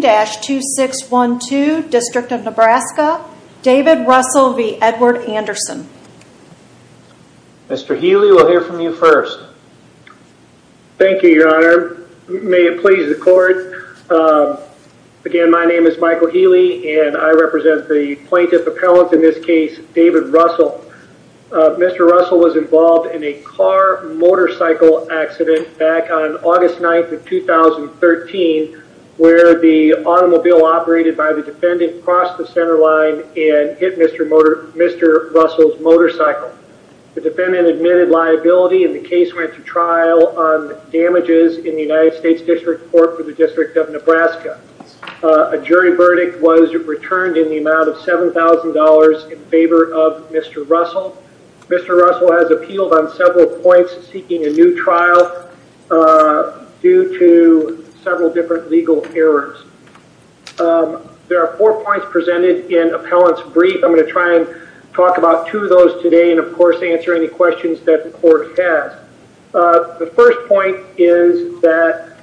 2612 District of Nebraska David Russell v. Edward Anderson Mr. Healy we'll hear from you first Thank you your honor may it please the court Again, my name is Michael Healy and I represent the plaintiff appellant in this case David Russell Mr. Russell was involved in a car motorcycle accident back on August 9th of 2013 where the automobile operated by the defendant crossed the centerline and hit mr. Motor. Mr Russell's motorcycle the defendant admitted liability and the case went to trial on damages in the United States District Court for the District of Nebraska a Jury verdict was returned in the amount of seven thousand dollars in favor of mr. Russell Mr. Russell has appealed on several points seeking a new trial Due to several different legal errors There are four points presented in appellants brief I'm going to try and talk about two of those today and of course answer any questions that the court has the first point is that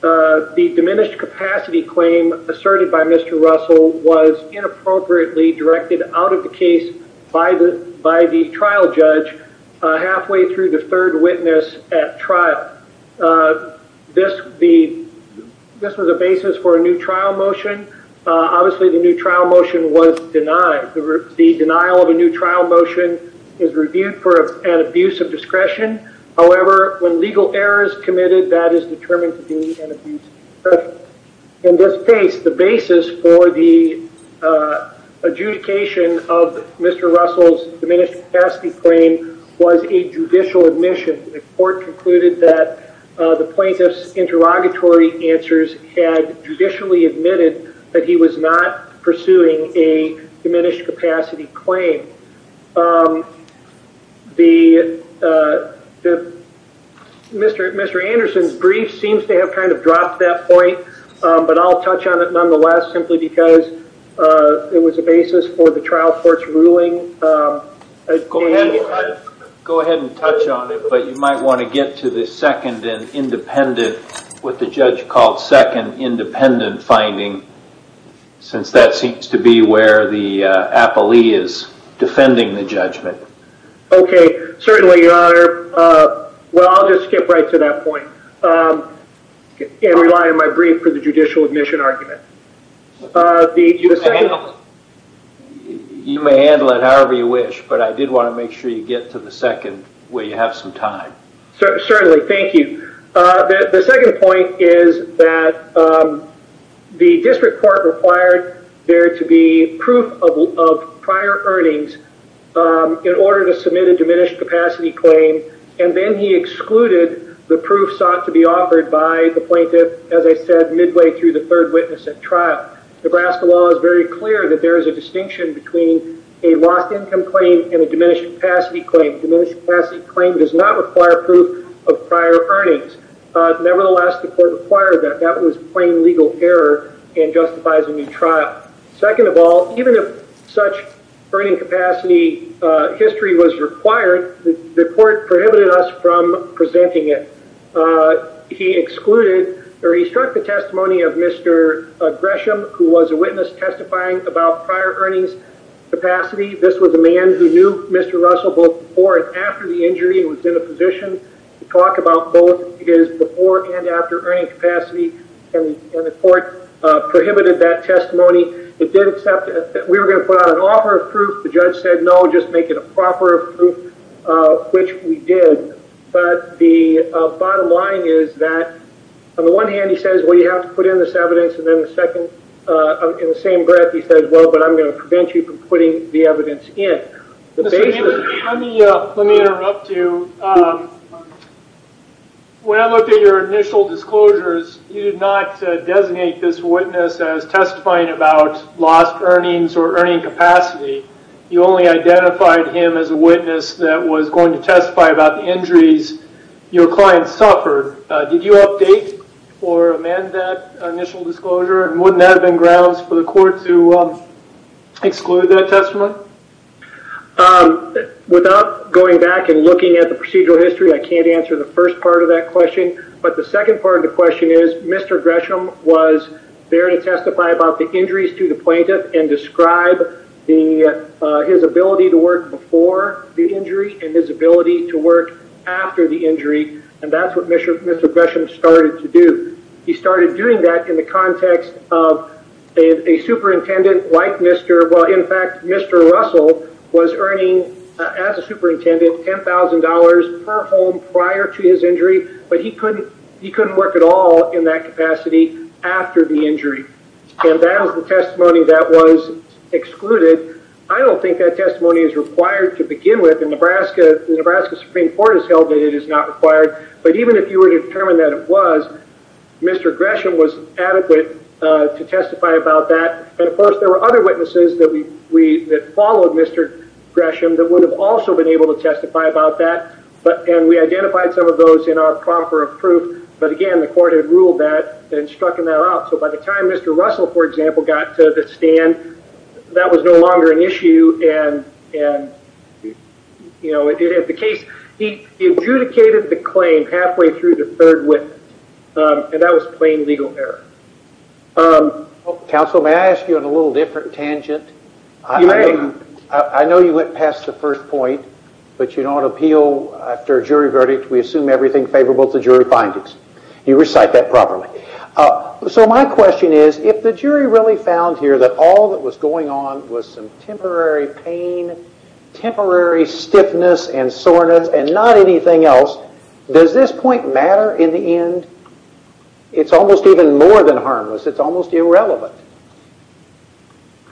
The diminished capacity claim asserted by mr. Russell was Inappropriately directed out of the case by the by the trial judge Halfway through the third witness at trial this the This was a basis for a new trial motion Obviously the new trial motion was denied the denial of a new trial motion is reviewed for an abuse of discretion however, when legal errors committed that is determined to be an abuse in this case the basis for the Adjudication of mr. Russell's diminished capacity claim was a judicial admission the court concluded that the plaintiffs interrogatory answers had Judicially admitted that he was not pursuing a diminished capacity claim The the Mr. Mr. Anderson's brief seems to have kind of dropped that point, but I'll touch on it nonetheless simply because It was a basis for the trial court's ruling Go ahead and touch on it, but you might want to get to the second and independent with the judge called second independent finding Since that seems to be where the appellee is defending the judgment Okay, certainly your honor Well, I'll just skip right to that point And rely on my brief for the judicial admission argument The You may handle it however you wish but I did want to make sure you get to the second will you have some time Certainly. Thank you the second point is that The district court required there to be proof of prior earnings In order to submit a diminished capacity claim and then he excluded the proof sought to be offered by the plaintiff As I said midway through the third witness at trial Nebraska law is very clear that there is a distinction between a lost income claim and a diminished capacity claim diminished Classy claim does not require proof of prior earnings Nevertheless, the court required that that was plain legal error and justifies a new trial Second of all, even if such earning capacity History was required the court prohibited us from presenting it He excluded or he struck the testimony of mr. Gresham who was a witness testifying about prior earnings Capacity, this was a man who knew mr. Russell both before and after the injury was in a position Talk about both his before and after earning capacity and the court Prohibited that testimony it did accept it that we were going to put out an offer of proof The judge said no just make it a proper Which we did but the bottom line is that On the one hand, he says well you have to put in this evidence and then the second In the same breath. He says well, but I'm going to prevent you from putting the evidence in Let me interrupt you When I looked at your initial disclosures You did not designate this witness as testifying about lost earnings or earning capacity You only identified him as a witness that was going to testify about the injuries your client suffered did you update or amend that initial disclosure and wouldn't that have been grounds for the court to exclude that testimony Without going back and looking at the procedural history, I can't answer the first part of that question But the second part of the question is mr Gresham was there to testify about the injuries to the plaintiff and describe the His ability to work before the injury and his ability to work after the injury and that's what mission Mr. Gresham started to do. He started doing that in the context of a Superintendent like mr. Well, in fact, mr Russell was earning as a superintendent ten thousand dollars per home prior to his injury But he couldn't he couldn't work at all in that capacity after the injury and that was the testimony that was Excluded I don't think that testimony is required to begin with in Nebraska The Nebraska Supreme Court has held that it is not required. But even if you were to determine that it was Mr. Gresham was adequate to testify about that. And of course there were other witnesses that we we that followed mr Gresham that would have also been able to testify about that But and we identified some of those in our proper of proof But again, the court had ruled that and struck him out out. So by the time mr. Russell, for example got to the stand that was no longer an issue and and You know it did at the case. He adjudicated the claim halfway through the third witness and that was plain legal error Counsel may I ask you in a little different tangent I Know you went past the first point, but you don't appeal after a jury verdict We assume everything favorable to jury findings you recite that properly So my question is if the jury really found here that all that was going on was some temporary pain Temporary stiffness and soreness and not anything else. Does this point matter in the end? It's almost even more than harmless. It's almost irrelevant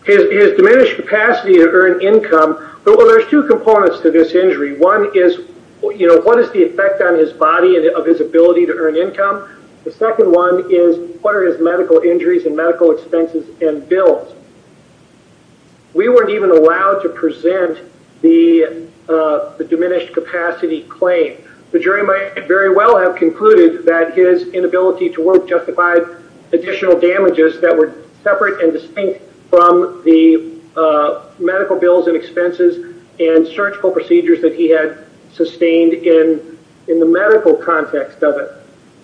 His diminished capacity to earn income, but well, there's two components to this injury one is, you know What is the effect on his body and of his ability to earn income? The second one is what are his medical injuries and medical expenses and bills? we weren't even allowed to present the Diminished capacity claim the jury might very well have concluded that his inability to work justified additional damages that were separate and distinct from the medical bills and expenses and Surgical procedures that he had sustained in in the medical context of it,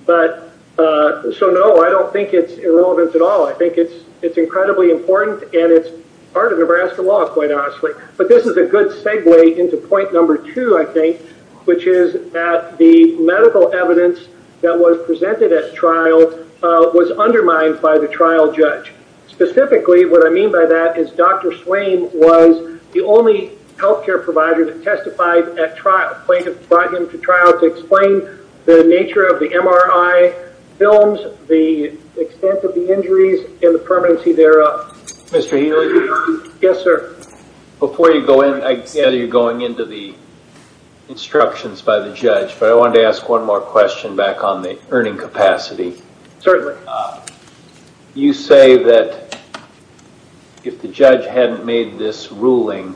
but So no, I don't think it's irrelevant at all I think it's it's incredibly important and it's part of Nebraska law quite honestly But this is a good segue into point number two I think which is at the medical evidence that was presented at trial Was undermined by the trial judge Specifically what I mean by that is dr Swain was the only health care provider that testified at trial plaintiff brought him to trial to explain the nature of the MRI films the Extent of the injuries and the permanency thereof. Mr. Healy. Yes, sir before you go in I gather you're going into the Instructions by the judge, but I wanted to ask one more question back on the earning capacity. Certainly You say that If the judge hadn't made this ruling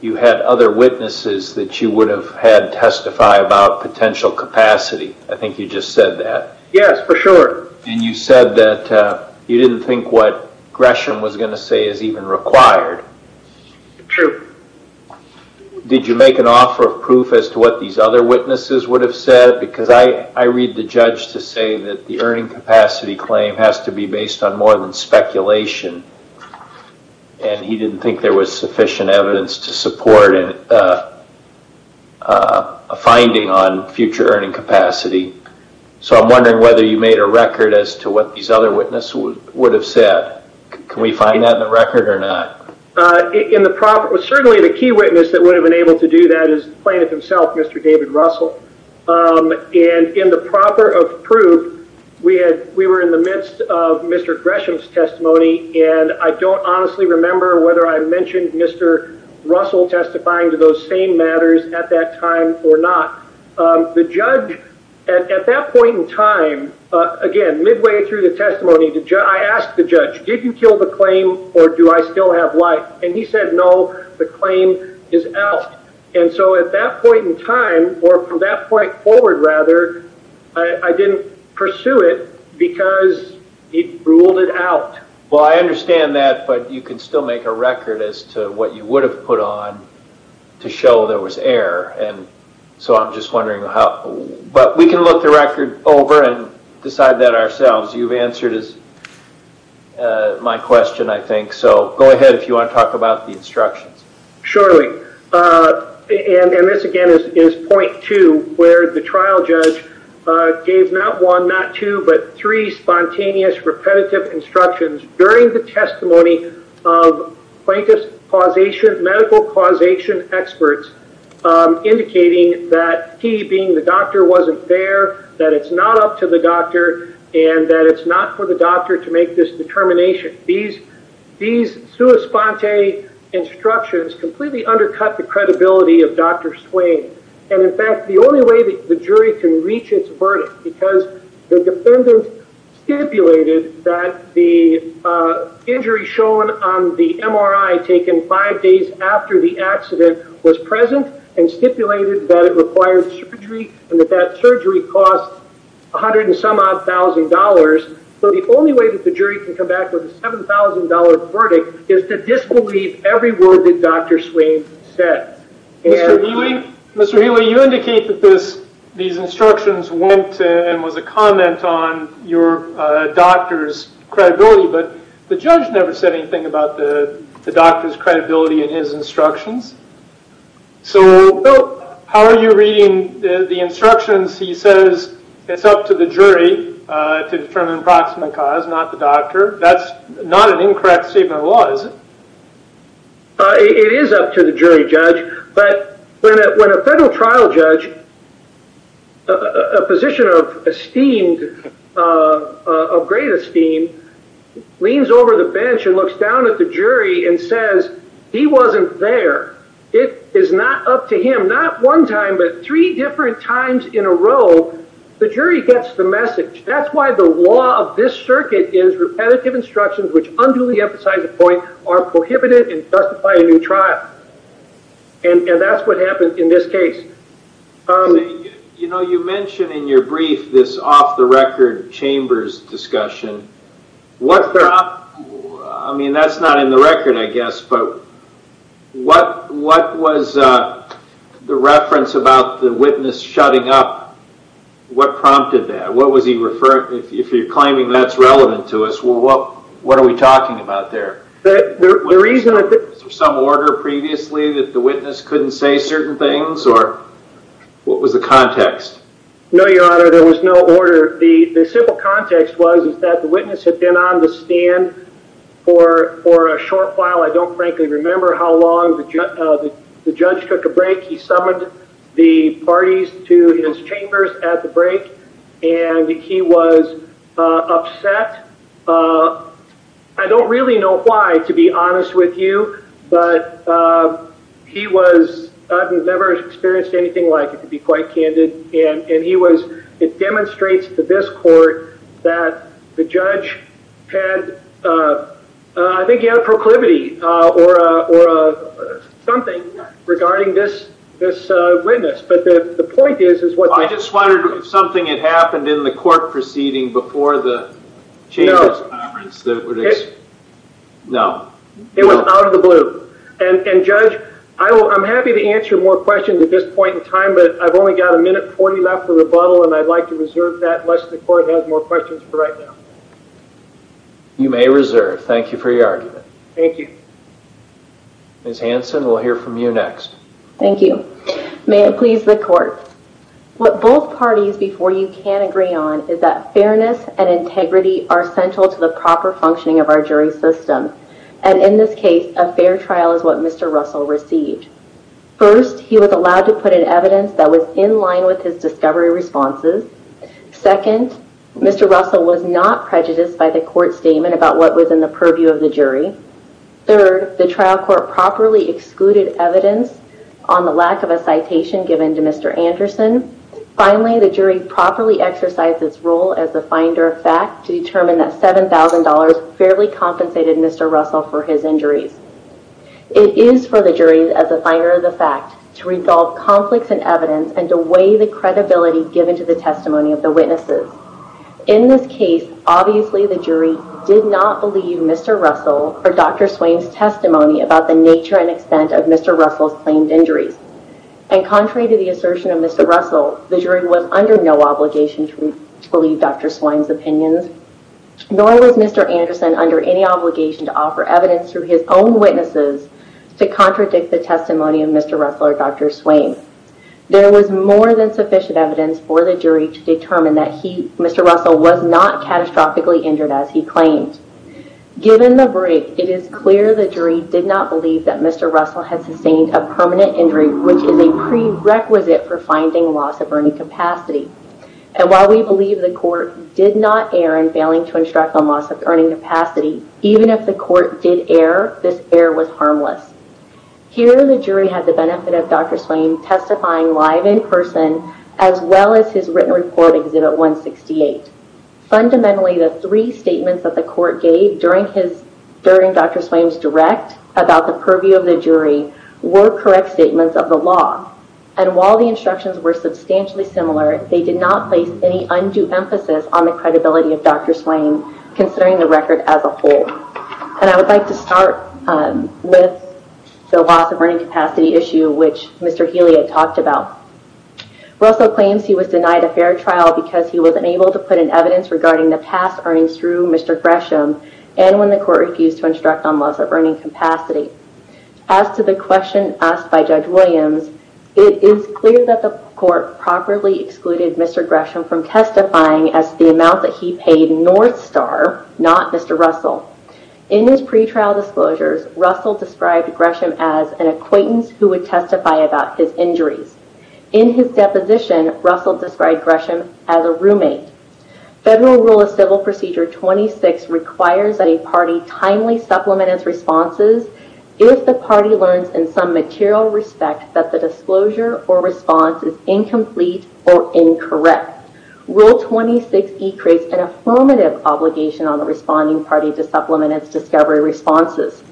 You had other witnesses that you would have had testify about potential capacity. I think you just said that Yes, for sure, and you said that you didn't think what Gresham was going to say is even required true Did you make an offer of proof as to what these other witnesses would have said because I I read the judge to say that the earning capacity claim has to be based on more than speculation and he didn't think there was sufficient evidence to support and a finding on future earning capacity So I'm wondering whether you made a record as to what these other witnesses would have said Can we find that in the record or not? In the proper was certainly the key witness that would have been able to do that is plaintiff himself. Mr. David Russell And in the proper of proof we had we were in the midst of mr. Gresham's testimony, and I don't honestly remember whether I mentioned mr. Russell testifying to those same matters at that time or not The judge at that point in time Again midway through the testimony to Joe I asked the judge didn't kill the claim or do I still have life and he said no the claim is out And so at that point in time or from that point forward rather I Didn't pursue it because he ruled it out Well, I understand that but you can still make a record as to what you would have put on To show there was error. And so I'm just wondering how but we can look the record over and decide that ourselves you've answered as My question I think so go ahead if you want to talk about the instructions surely And this again is point to where the trial judge gave not one not two, but three spontaneous repetitive instructions during the testimony of plaintiff's causation medical causation experts Indicating that he being the doctor wasn't there that it's not up to the doctor and that it's not for the doctor to make this determination these these sua sponte Instructions completely undercut the credibility of dr. Swain and in fact, the only way that the jury can reach its verdict because the defendant stipulated that the injury shown on the MRI taken five days after the accident was present and Stipulated that it required surgery and that that surgery cost a hundred and some odd thousand dollars So the only way that the jury can come back with a seven thousand dollar verdict is to disbelieve every word that dr. Swain said Mr. Healy you indicate that this these instructions went and was a comment on your Doctor's credibility, but the judge never said anything about the the doctor's credibility in his instructions So how are you reading the instructions? He says it's up to the jury To determine approximate cause not the doctor. That's not an incorrect statement of laws It is up to the jury judge, but when a federal trial judge a Position of esteemed of great esteem Leans over the bench and looks down at the jury and says he wasn't there It is not up to him not one time but three different times in a row The jury gets the message that's why the law of this circuit is repetitive instructions, which unduly emphasize the point are prohibited and justify a new trial and That's what happened in this case You know you mentioned in your brief this off-the-record Chambers discussion What's there? I mean that's not in the record I guess but what what was The reference about the witness shutting up What prompted that what was he referring if you're claiming that's relevant to us well What what are we talking about there that the reason that there's some order previously that the witness couldn't say certain things or? What was the context? No, your honor. There was no order the the simple context was is that the witness had been on the stand For for a short while. I don't frankly remember how long the judge took a break He summoned the parties to his chambers at the break, and he was upset I don't really know why to be honest with you, but He was I've never experienced anything like it to be quite candid and and he was it demonstrates to this court that the judge had I think he had a proclivity or a Something regarding this this witness, but the point is is what I just wondered if something had happened in the court proceeding before the channels No, it was out of the blue and and judge I'm happy to answer more questions at this point in time But I've only got a minute 40 left for rebuttal and I'd like to reserve that unless the court has more questions for right now You may reserve. Thank you for your argument. Thank you Miss Hanson, we'll hear from you next. Thank you. May it please the court What both parties before you can agree on is that fairness and integrity are central to the proper functioning of our jury system? And in this case a fair trial is what mr. Russell received First he was allowed to put an evidence that was in line with his discovery responses Second, mr. Russell was not prejudiced by the court statement about what was in the purview of the jury Third the trial court properly excluded evidence on the lack of a citation given to mr. Anderson Finally the jury properly exercised its role as the finder of fact to determine that seven thousand dollars fairly compensated Mr. Russell for his injuries It is for the jury as a fire of the fact to resolve conflicts and evidence and to weigh the credibility Given to the testimony of the witnesses in this case. Obviously the jury did not believe. Mr Russell or dr. Swain's testimony about the nature and extent of mr. Russell's claimed injuries and Contrary to the assertion of mr. Russell. The jury was under no obligation to believe dr. Swain's opinions Nor was mr. Anderson under any obligation to offer evidence through his own witnesses to contradict the testimony of mr Russell or dr. Swain There was more than sufficient evidence for the jury to determine that he mr. Russell was not catastrophically injured as he claimed Given the break it is clear. The jury did not believe that. Mr. Russell had sustained a permanent injury, which is a prerequisite for finding loss of earning capacity And while we believe the court did not err in failing to instruct on loss of earning capacity Even if the court did err this error was harmless Here the jury had the benefit of dr. Swain testifying live in person as well as his written report exhibit 168 Fundamentally the three statements that the court gave during his during dr. Swain's direct about the purview of the jury Were correct statements of the law and while the instructions were substantially similar They did not place any undue emphasis on the credibility of dr. Swain Considering the record as a whole and I would like to start With the loss of earning capacity issue, which mr. Healy had talked about Russell claims he was denied a fair trial because he was unable to put in evidence regarding the past earnings through mr Gresham and when the court refused to instruct on loss of earning capacity As to the question asked by judge Williams, it is clear that the court properly excluded Mr. Gresham from testifying as the amount that he paid North Star not. Mr Russell in his pretrial disclosures Russell described Gresham as an acquaintance who would testify about his injuries in His deposition Russell described Gresham as a roommate federal rule of civil procedure 26 requires that a party timely supplement its responses If the party learns in some material respect that the disclosure or response is incomplete or incorrect Rule 26 decrease an affirmative obligation on the responding party to supplement its discovery responses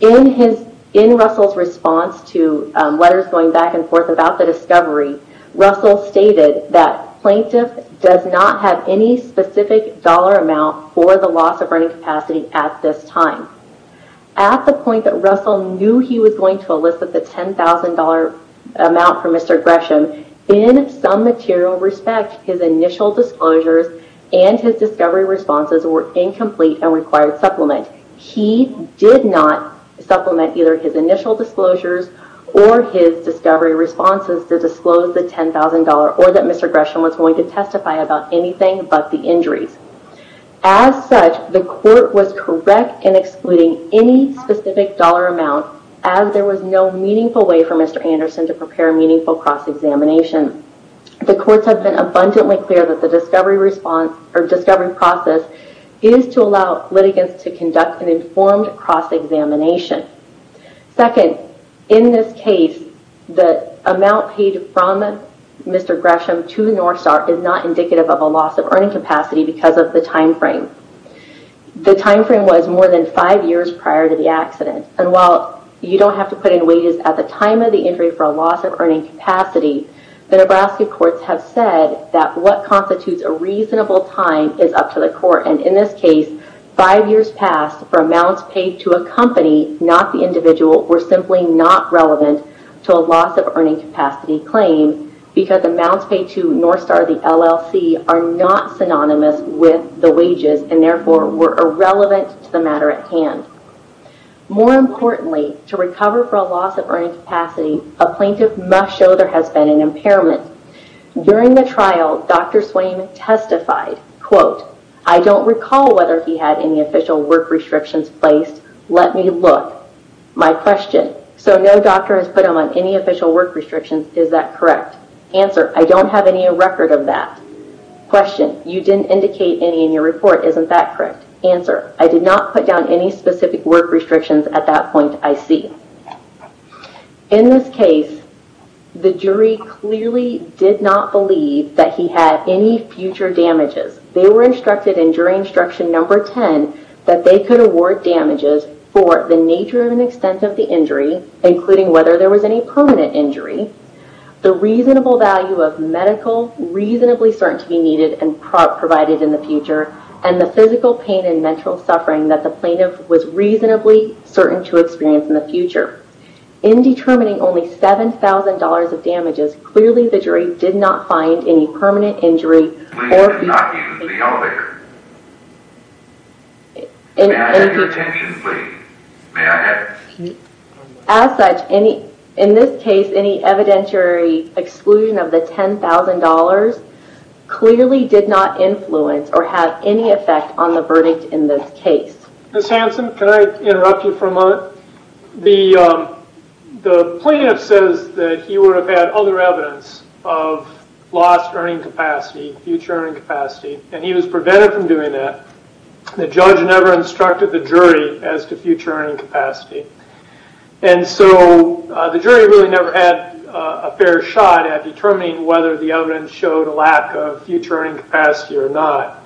In his in Russell's response to letters going back and forth about the discovery Russell stated that plaintiff does not have any specific dollar amount for the loss of earning capacity at this time At the point that Russell knew he was going to elicit the $10,000 amount for mr Gresham in some material respect his initial disclosures and his discovery responses were Incomplete and required supplement he did not supplement either his initial disclosures or his discovery Responses to disclose the $10,000 or that mr. Gresham was going to testify about anything, but the injuries As such the court was correct in excluding any specific dollar amount as there was no meaningful way for mr Anderson to prepare meaningful cross-examination The courts have been abundantly clear that the discovery response or discovery process is to allow litigants to conduct an informed cross-examination Second in this case the amount paid from Mr. Gresham to the North Star is not indicative of a loss of earning capacity because of the time frame The time frame was more than five years prior to the accident And while you don't have to put in wages at the time of the injury for a loss of earning capacity The Nebraska courts have said that what constitutes a reasonable time is up to the court and in this case Five years passed for amounts paid to a company not the individual were simply not relevant to a loss of earning capacity Claim because amounts paid to North Star the LLC are not synonymous with the wages and therefore were irrelevant to the matter at hand More importantly to recover for a loss of earning capacity a plaintiff must show there has been an impairment During the trial. Dr. Swain testified quote. I don't recall whether he had any official work restrictions placed Let me look my question. So no doctor has put him on any official work restrictions. Is that correct answer? I don't have any a record of that Question you didn't indicate any in your report. Isn't that correct answer? I did not put down any specific work restrictions at that point. I see in this case The jury clearly did not believe that he had any future damages They were instructed in jury instruction number 10 that they could award damages for the nature of an extent of the injury Including whether there was any permanent injury the reasonable value of medical Reasonably certain to be needed and provided in the future and the physical pain and mental suffering that the plaintiff was reasonably certain to experience in the future in Determining only seven thousand dollars of damages. Clearly the jury did not find any permanent injury As such any in this case any evidentiary Exclusion of the $10,000 Clearly did not influence or have any effect on the verdict in this case. Miss Hanson. Can I interrupt you for a moment? the the plaintiff says that he would have had other evidence of Lost earning capacity future earning capacity and he was prevented from doing that the judge never instructed the jury as to future earning capacity and So the jury really never had a fair shot at determining whether the evidence showed a lack of future earning capacity or not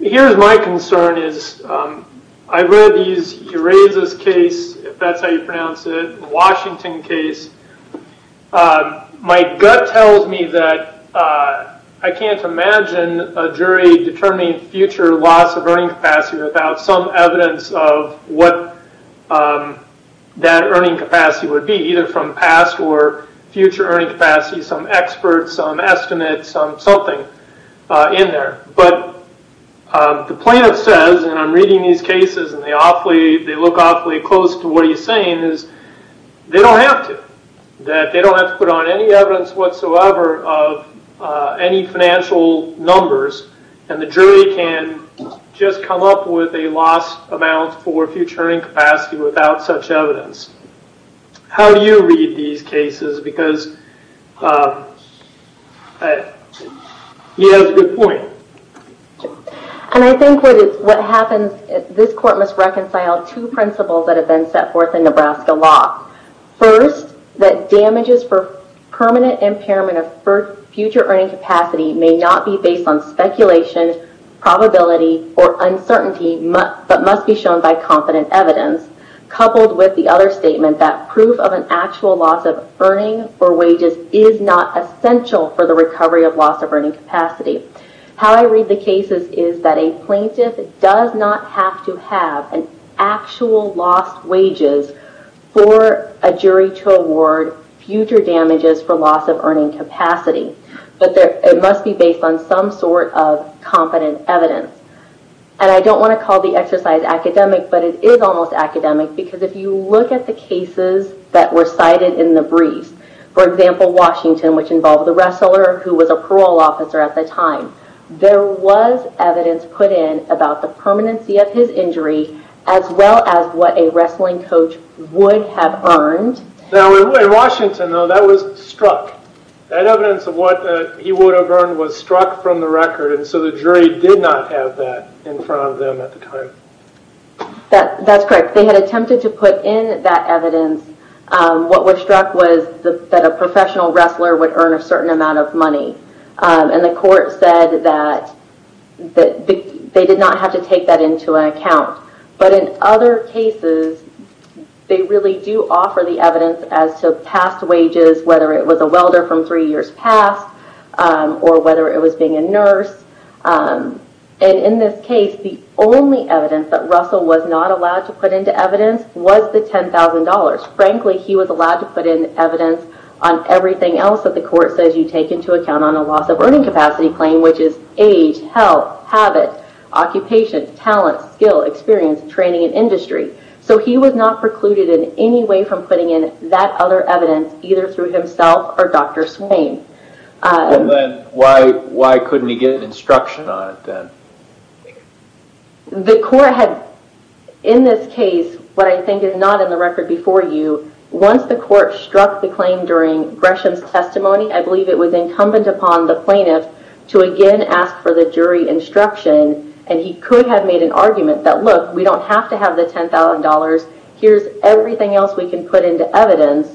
Here's my concern is I read these Erez's case if that's how you pronounce it Washington case My gut tells me that I can't imagine a jury determining future loss of earning capacity without some evidence of what That earning capacity would be either from past or future earning capacity some experts on estimates on something in there, but the plaintiff says and I'm reading these cases and they awfully they look awfully close to what he's saying is They don't have to that. They don't have to put on any evidence whatsoever of any financial numbers and the jury can Just come up with a loss amount for future earning capacity without such evidence how do you read these cases because He has a good point And I think what happens this court must reconcile two principles that have been set forth in Nebraska law First that damages for permanent impairment of birth future earning capacity may not be based on speculation Probability or uncertainty, but must be shown by competent evidence coupled with the other statement that proof of an actual loss of earning or wages is not Essential for the recovery of loss of earning capacity How I read the cases is that a plaintiff does not have to have an actual lost wages For a jury to award future damages for loss of earning capacity But there it must be based on some sort of competent evidence and I don't want to call the exercise academic But it is almost academic because if you look at the cases that were cited in the briefs For example, Washington which involved the wrestler who was a parole officer at the time There was evidence put in about the permanency of his injury as well as what a wrestling coach Would have earned Now in Washington though that was struck That evidence of what he would have earned was struck from the record And so the jury did not have that in front of them at the time That that's correct. They had attempted to put in that evidence What was struck was that a professional wrestler would earn a certain amount of money and the court said that That they did not have to take that into account but in other cases They really do offer the evidence as to past wages whether it was a welder from three years past Or whether it was being a nurse And in this case the only evidence that Russell was not allowed to put into evidence was the $10,000 Frankly, he was allowed to put in evidence on everything else that the court says you take into account on a loss of earning capacity Claim which is age, health, habit, Occupation, talent, skill, experience, training, and industry So he was not precluded in any way from putting in that other evidence either through himself or Dr. Swain Why why couldn't he get an instruction on it then? The court had in this case what I think is not in the record before you Once the court struck the claim during Gresham's testimony I believe it was incumbent upon the plaintiff to again ask for the jury instruction And he could have made an argument that look we don't have to have the $10,000. Here's everything else we can put into evidence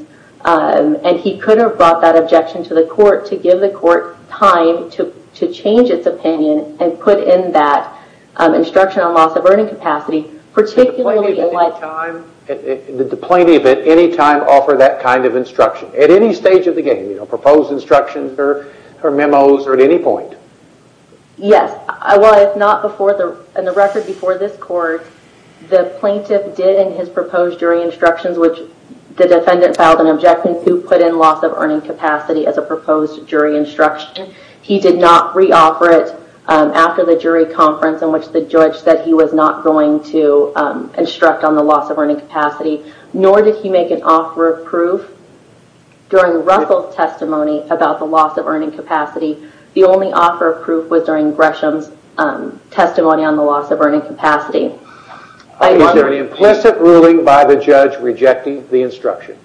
And he could have brought that objection to the court to give the court time to to change its opinion and put in that instruction on loss of earning capacity particularly in light time Did the plaintiff at any time offer that kind of instruction at any stage of the game? You know proposed instructions or her memos or at any point? Yes, I was not before the in the record before this court The plaintiff did in his proposed jury instructions Which the defendant filed an objection to put in loss of earning capacity as a proposed jury instruction He did not reoffer it after the jury conference in which the judge said he was not going to Instruct on the loss of earning capacity, nor did he make an offer of proof During Russell's testimony about the loss of earning capacity. The only offer of proof was during Gresham's testimony on the loss of earning capacity Is there an implicit ruling by the judge rejecting the instruction?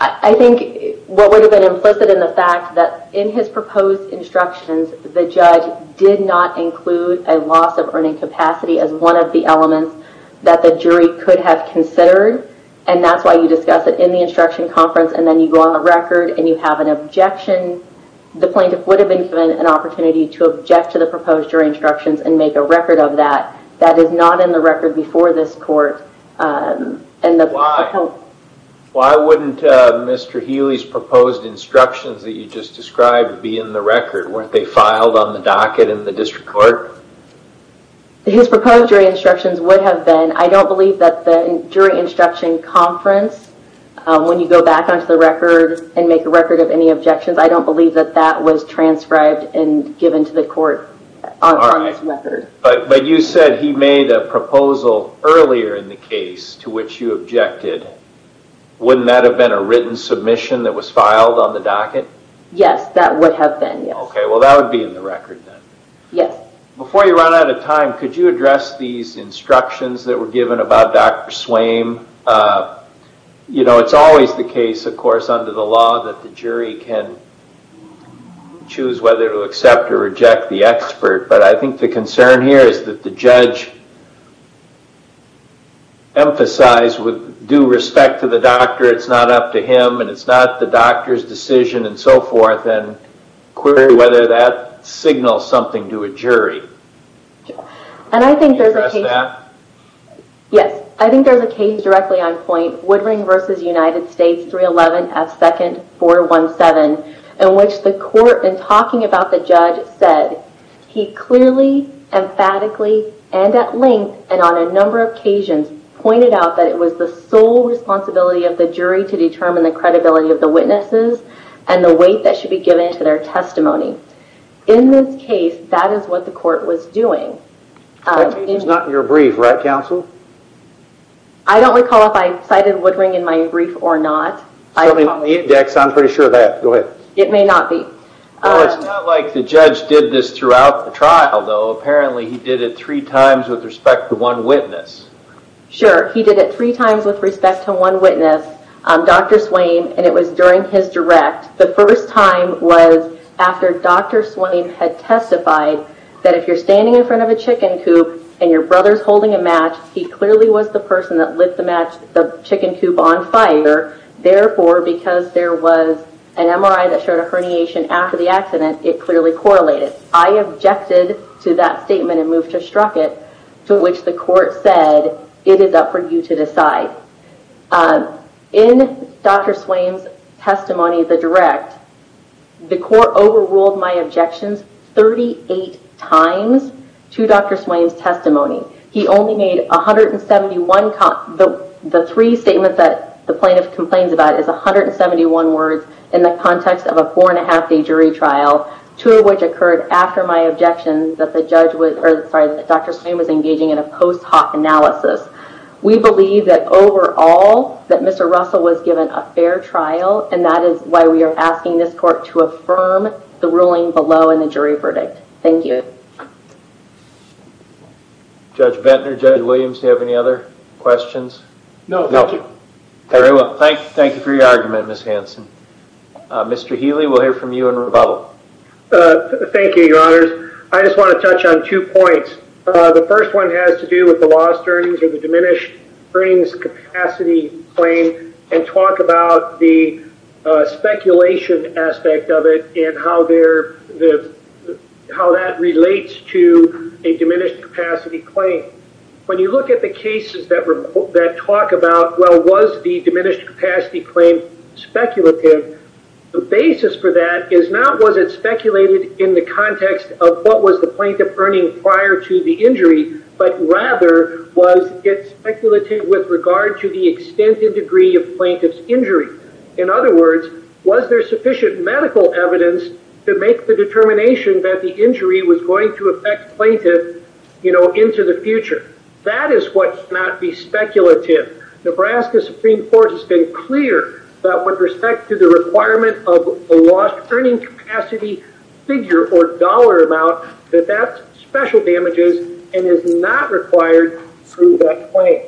I Think what would have been implicit in the fact that in his proposed instructions The judge did not include a loss of earning capacity as one of the elements that the jury could have Considered and that's why you discuss it in the instruction conference and then you go on the record and you have an objection The plaintiff would have been given an opportunity to object to the proposed jury instructions and make a record of that That is not in the record before this court and Why wouldn't Mr. Healy's proposed instructions that you just described be in the record weren't they filed on the docket in the district court? His proposed jury instructions would have been I don't believe that the jury instruction conference When you go back onto the record and make a record of any objections I don't believe that that was transcribed and given to the court But but you said he made a proposal earlier in the case to which you objected Wouldn't that have been a written submission that was filed on the docket? Yes, that would have been okay Well, that would be in the record then. Yes before you run out of time. Could you address these instructions that were given about dr. Swain? You know, it's always the case of course under the law that the jury can Choose whether to accept or reject the expert, but I think the concern here is that the judge Emphasized with due respect to the doctor it's not up to him and it's not the doctor's decision and so forth and Query whether that signals something to a jury And I think there's a case that Yes, I think there's a case directly on point Woodring versus United States 311 as second 417 in which the court and talking about the judge said he clearly emphatically and at length and on a number of occasions pointed out that it was the sole responsibility of the jury to determine the credibility of the witnesses and The weight that should be given to their testimony in this case. That is what the court was doing It's not in your brief right counsel. I Don't recall if I cited Woodring in my brief or not. I mean the index. I'm pretty sure that go ahead It may not be It's not like the judge did this throughout the trial though. Apparently he did it three times with respect to one witness Sure, he did it three times with respect to one witness Dr. Swain and it was during his direct the first time was after dr Swain had testified that if you're standing in front of a chicken coop and your brother's holding a match He clearly was the person that lit the match the chicken coop on fire Therefore because there was an MRI that showed a herniation after the accident. It clearly correlated I objected to that statement and moved to struck it to which the court said it is up for you to decide In dr. Swain's testimony the direct The court overruled my objections 38 times to dr. Swain's testimony He only made a hundred and seventy one cop But the three statements that the plaintiff complains about is a hundred and seventy one words in the context of a four-and-a-half day jury Trial two of which occurred after my objections that the judge was sorry. Dr. Swain was engaging in a post hoc analysis We believe that overall that mr. Russell was given a fair trial And that is why we are asking this court to affirm the ruling below in the jury verdict. Thank you Judge Bettner judge Williams. Do you have any other questions? No, thank you. Very well. Thank you. Thank you for your argument. Miss Hanson Mr. Healy, we'll hear from you in rebuttal Thank you your honors I just want to touch on two points the first one has to do with the lost earnings or the diminished brings capacity claim and talk about the speculation aspect of it and how they're the How that relates to a diminished capacity claim when you look at the cases that were that talk about well Was the diminished capacity claim Speculative the basis for that is not was it speculated in the context of what was the plaintiff earning prior to the injury? But rather was it speculative with regard to the extent the degree of plaintiff's injury in other words Was there sufficient medical evidence to make the determination that the injury was going to affect plaintiff? You know into the future that is what not be speculative Nebraska Supreme Court has been clear that with respect to the requirement of a lost earning capacity Figure or dollar amount that that's special damages and is not required through that claim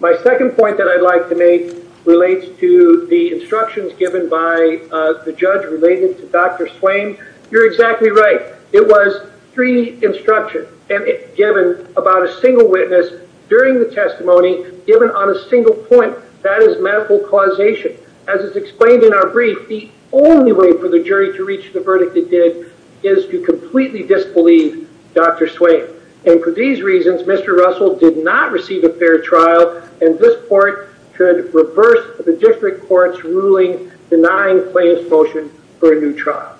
My second point that I'd like to make relates to the instructions given by the judge related to dr Swain you're exactly right It was three instruction and it given about a single witness during the testimony given on a single point That is medical causation as it's explained in our brief The only way for the jury to reach the verdict it did is to completely disbelieve. Dr Swain and for these reasons, mr Russell did not receive a fair trial and this court should reverse the district courts ruling Denying plaintiff's motion for a new trial.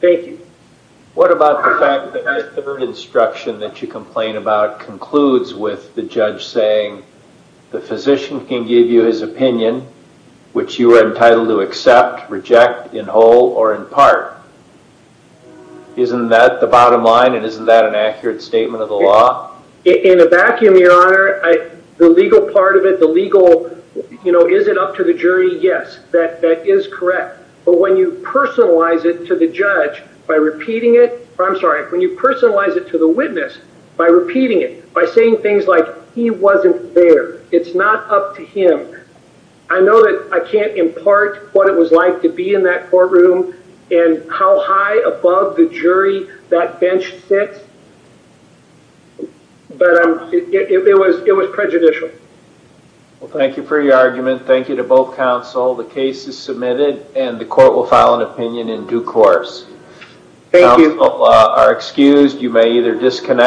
Thank you. What about the fact that the third instruction that you complain about concludes with the judge saying The physician can give you his opinion which you are entitled to accept reject in whole or in part Isn't that the bottom line and isn't that an accurate statement of the law in a vacuum your honor The legal part of it the legal, you know, is it up to the jury? Yes that that is correct But when you personalize it to the judge by repeating it I'm sorry when you personalize it to the witness by repeating it by saying things like he wasn't there. It's not up to him I know that I can't impart what it was like to be in that courtroom and how high above the jury that bench sits But It was it was prejudicial Well, thank you for your argument. Thank you to both counsel. The case is submitted and the court will file an opinion in due course Thank you are excused. You may either disconnect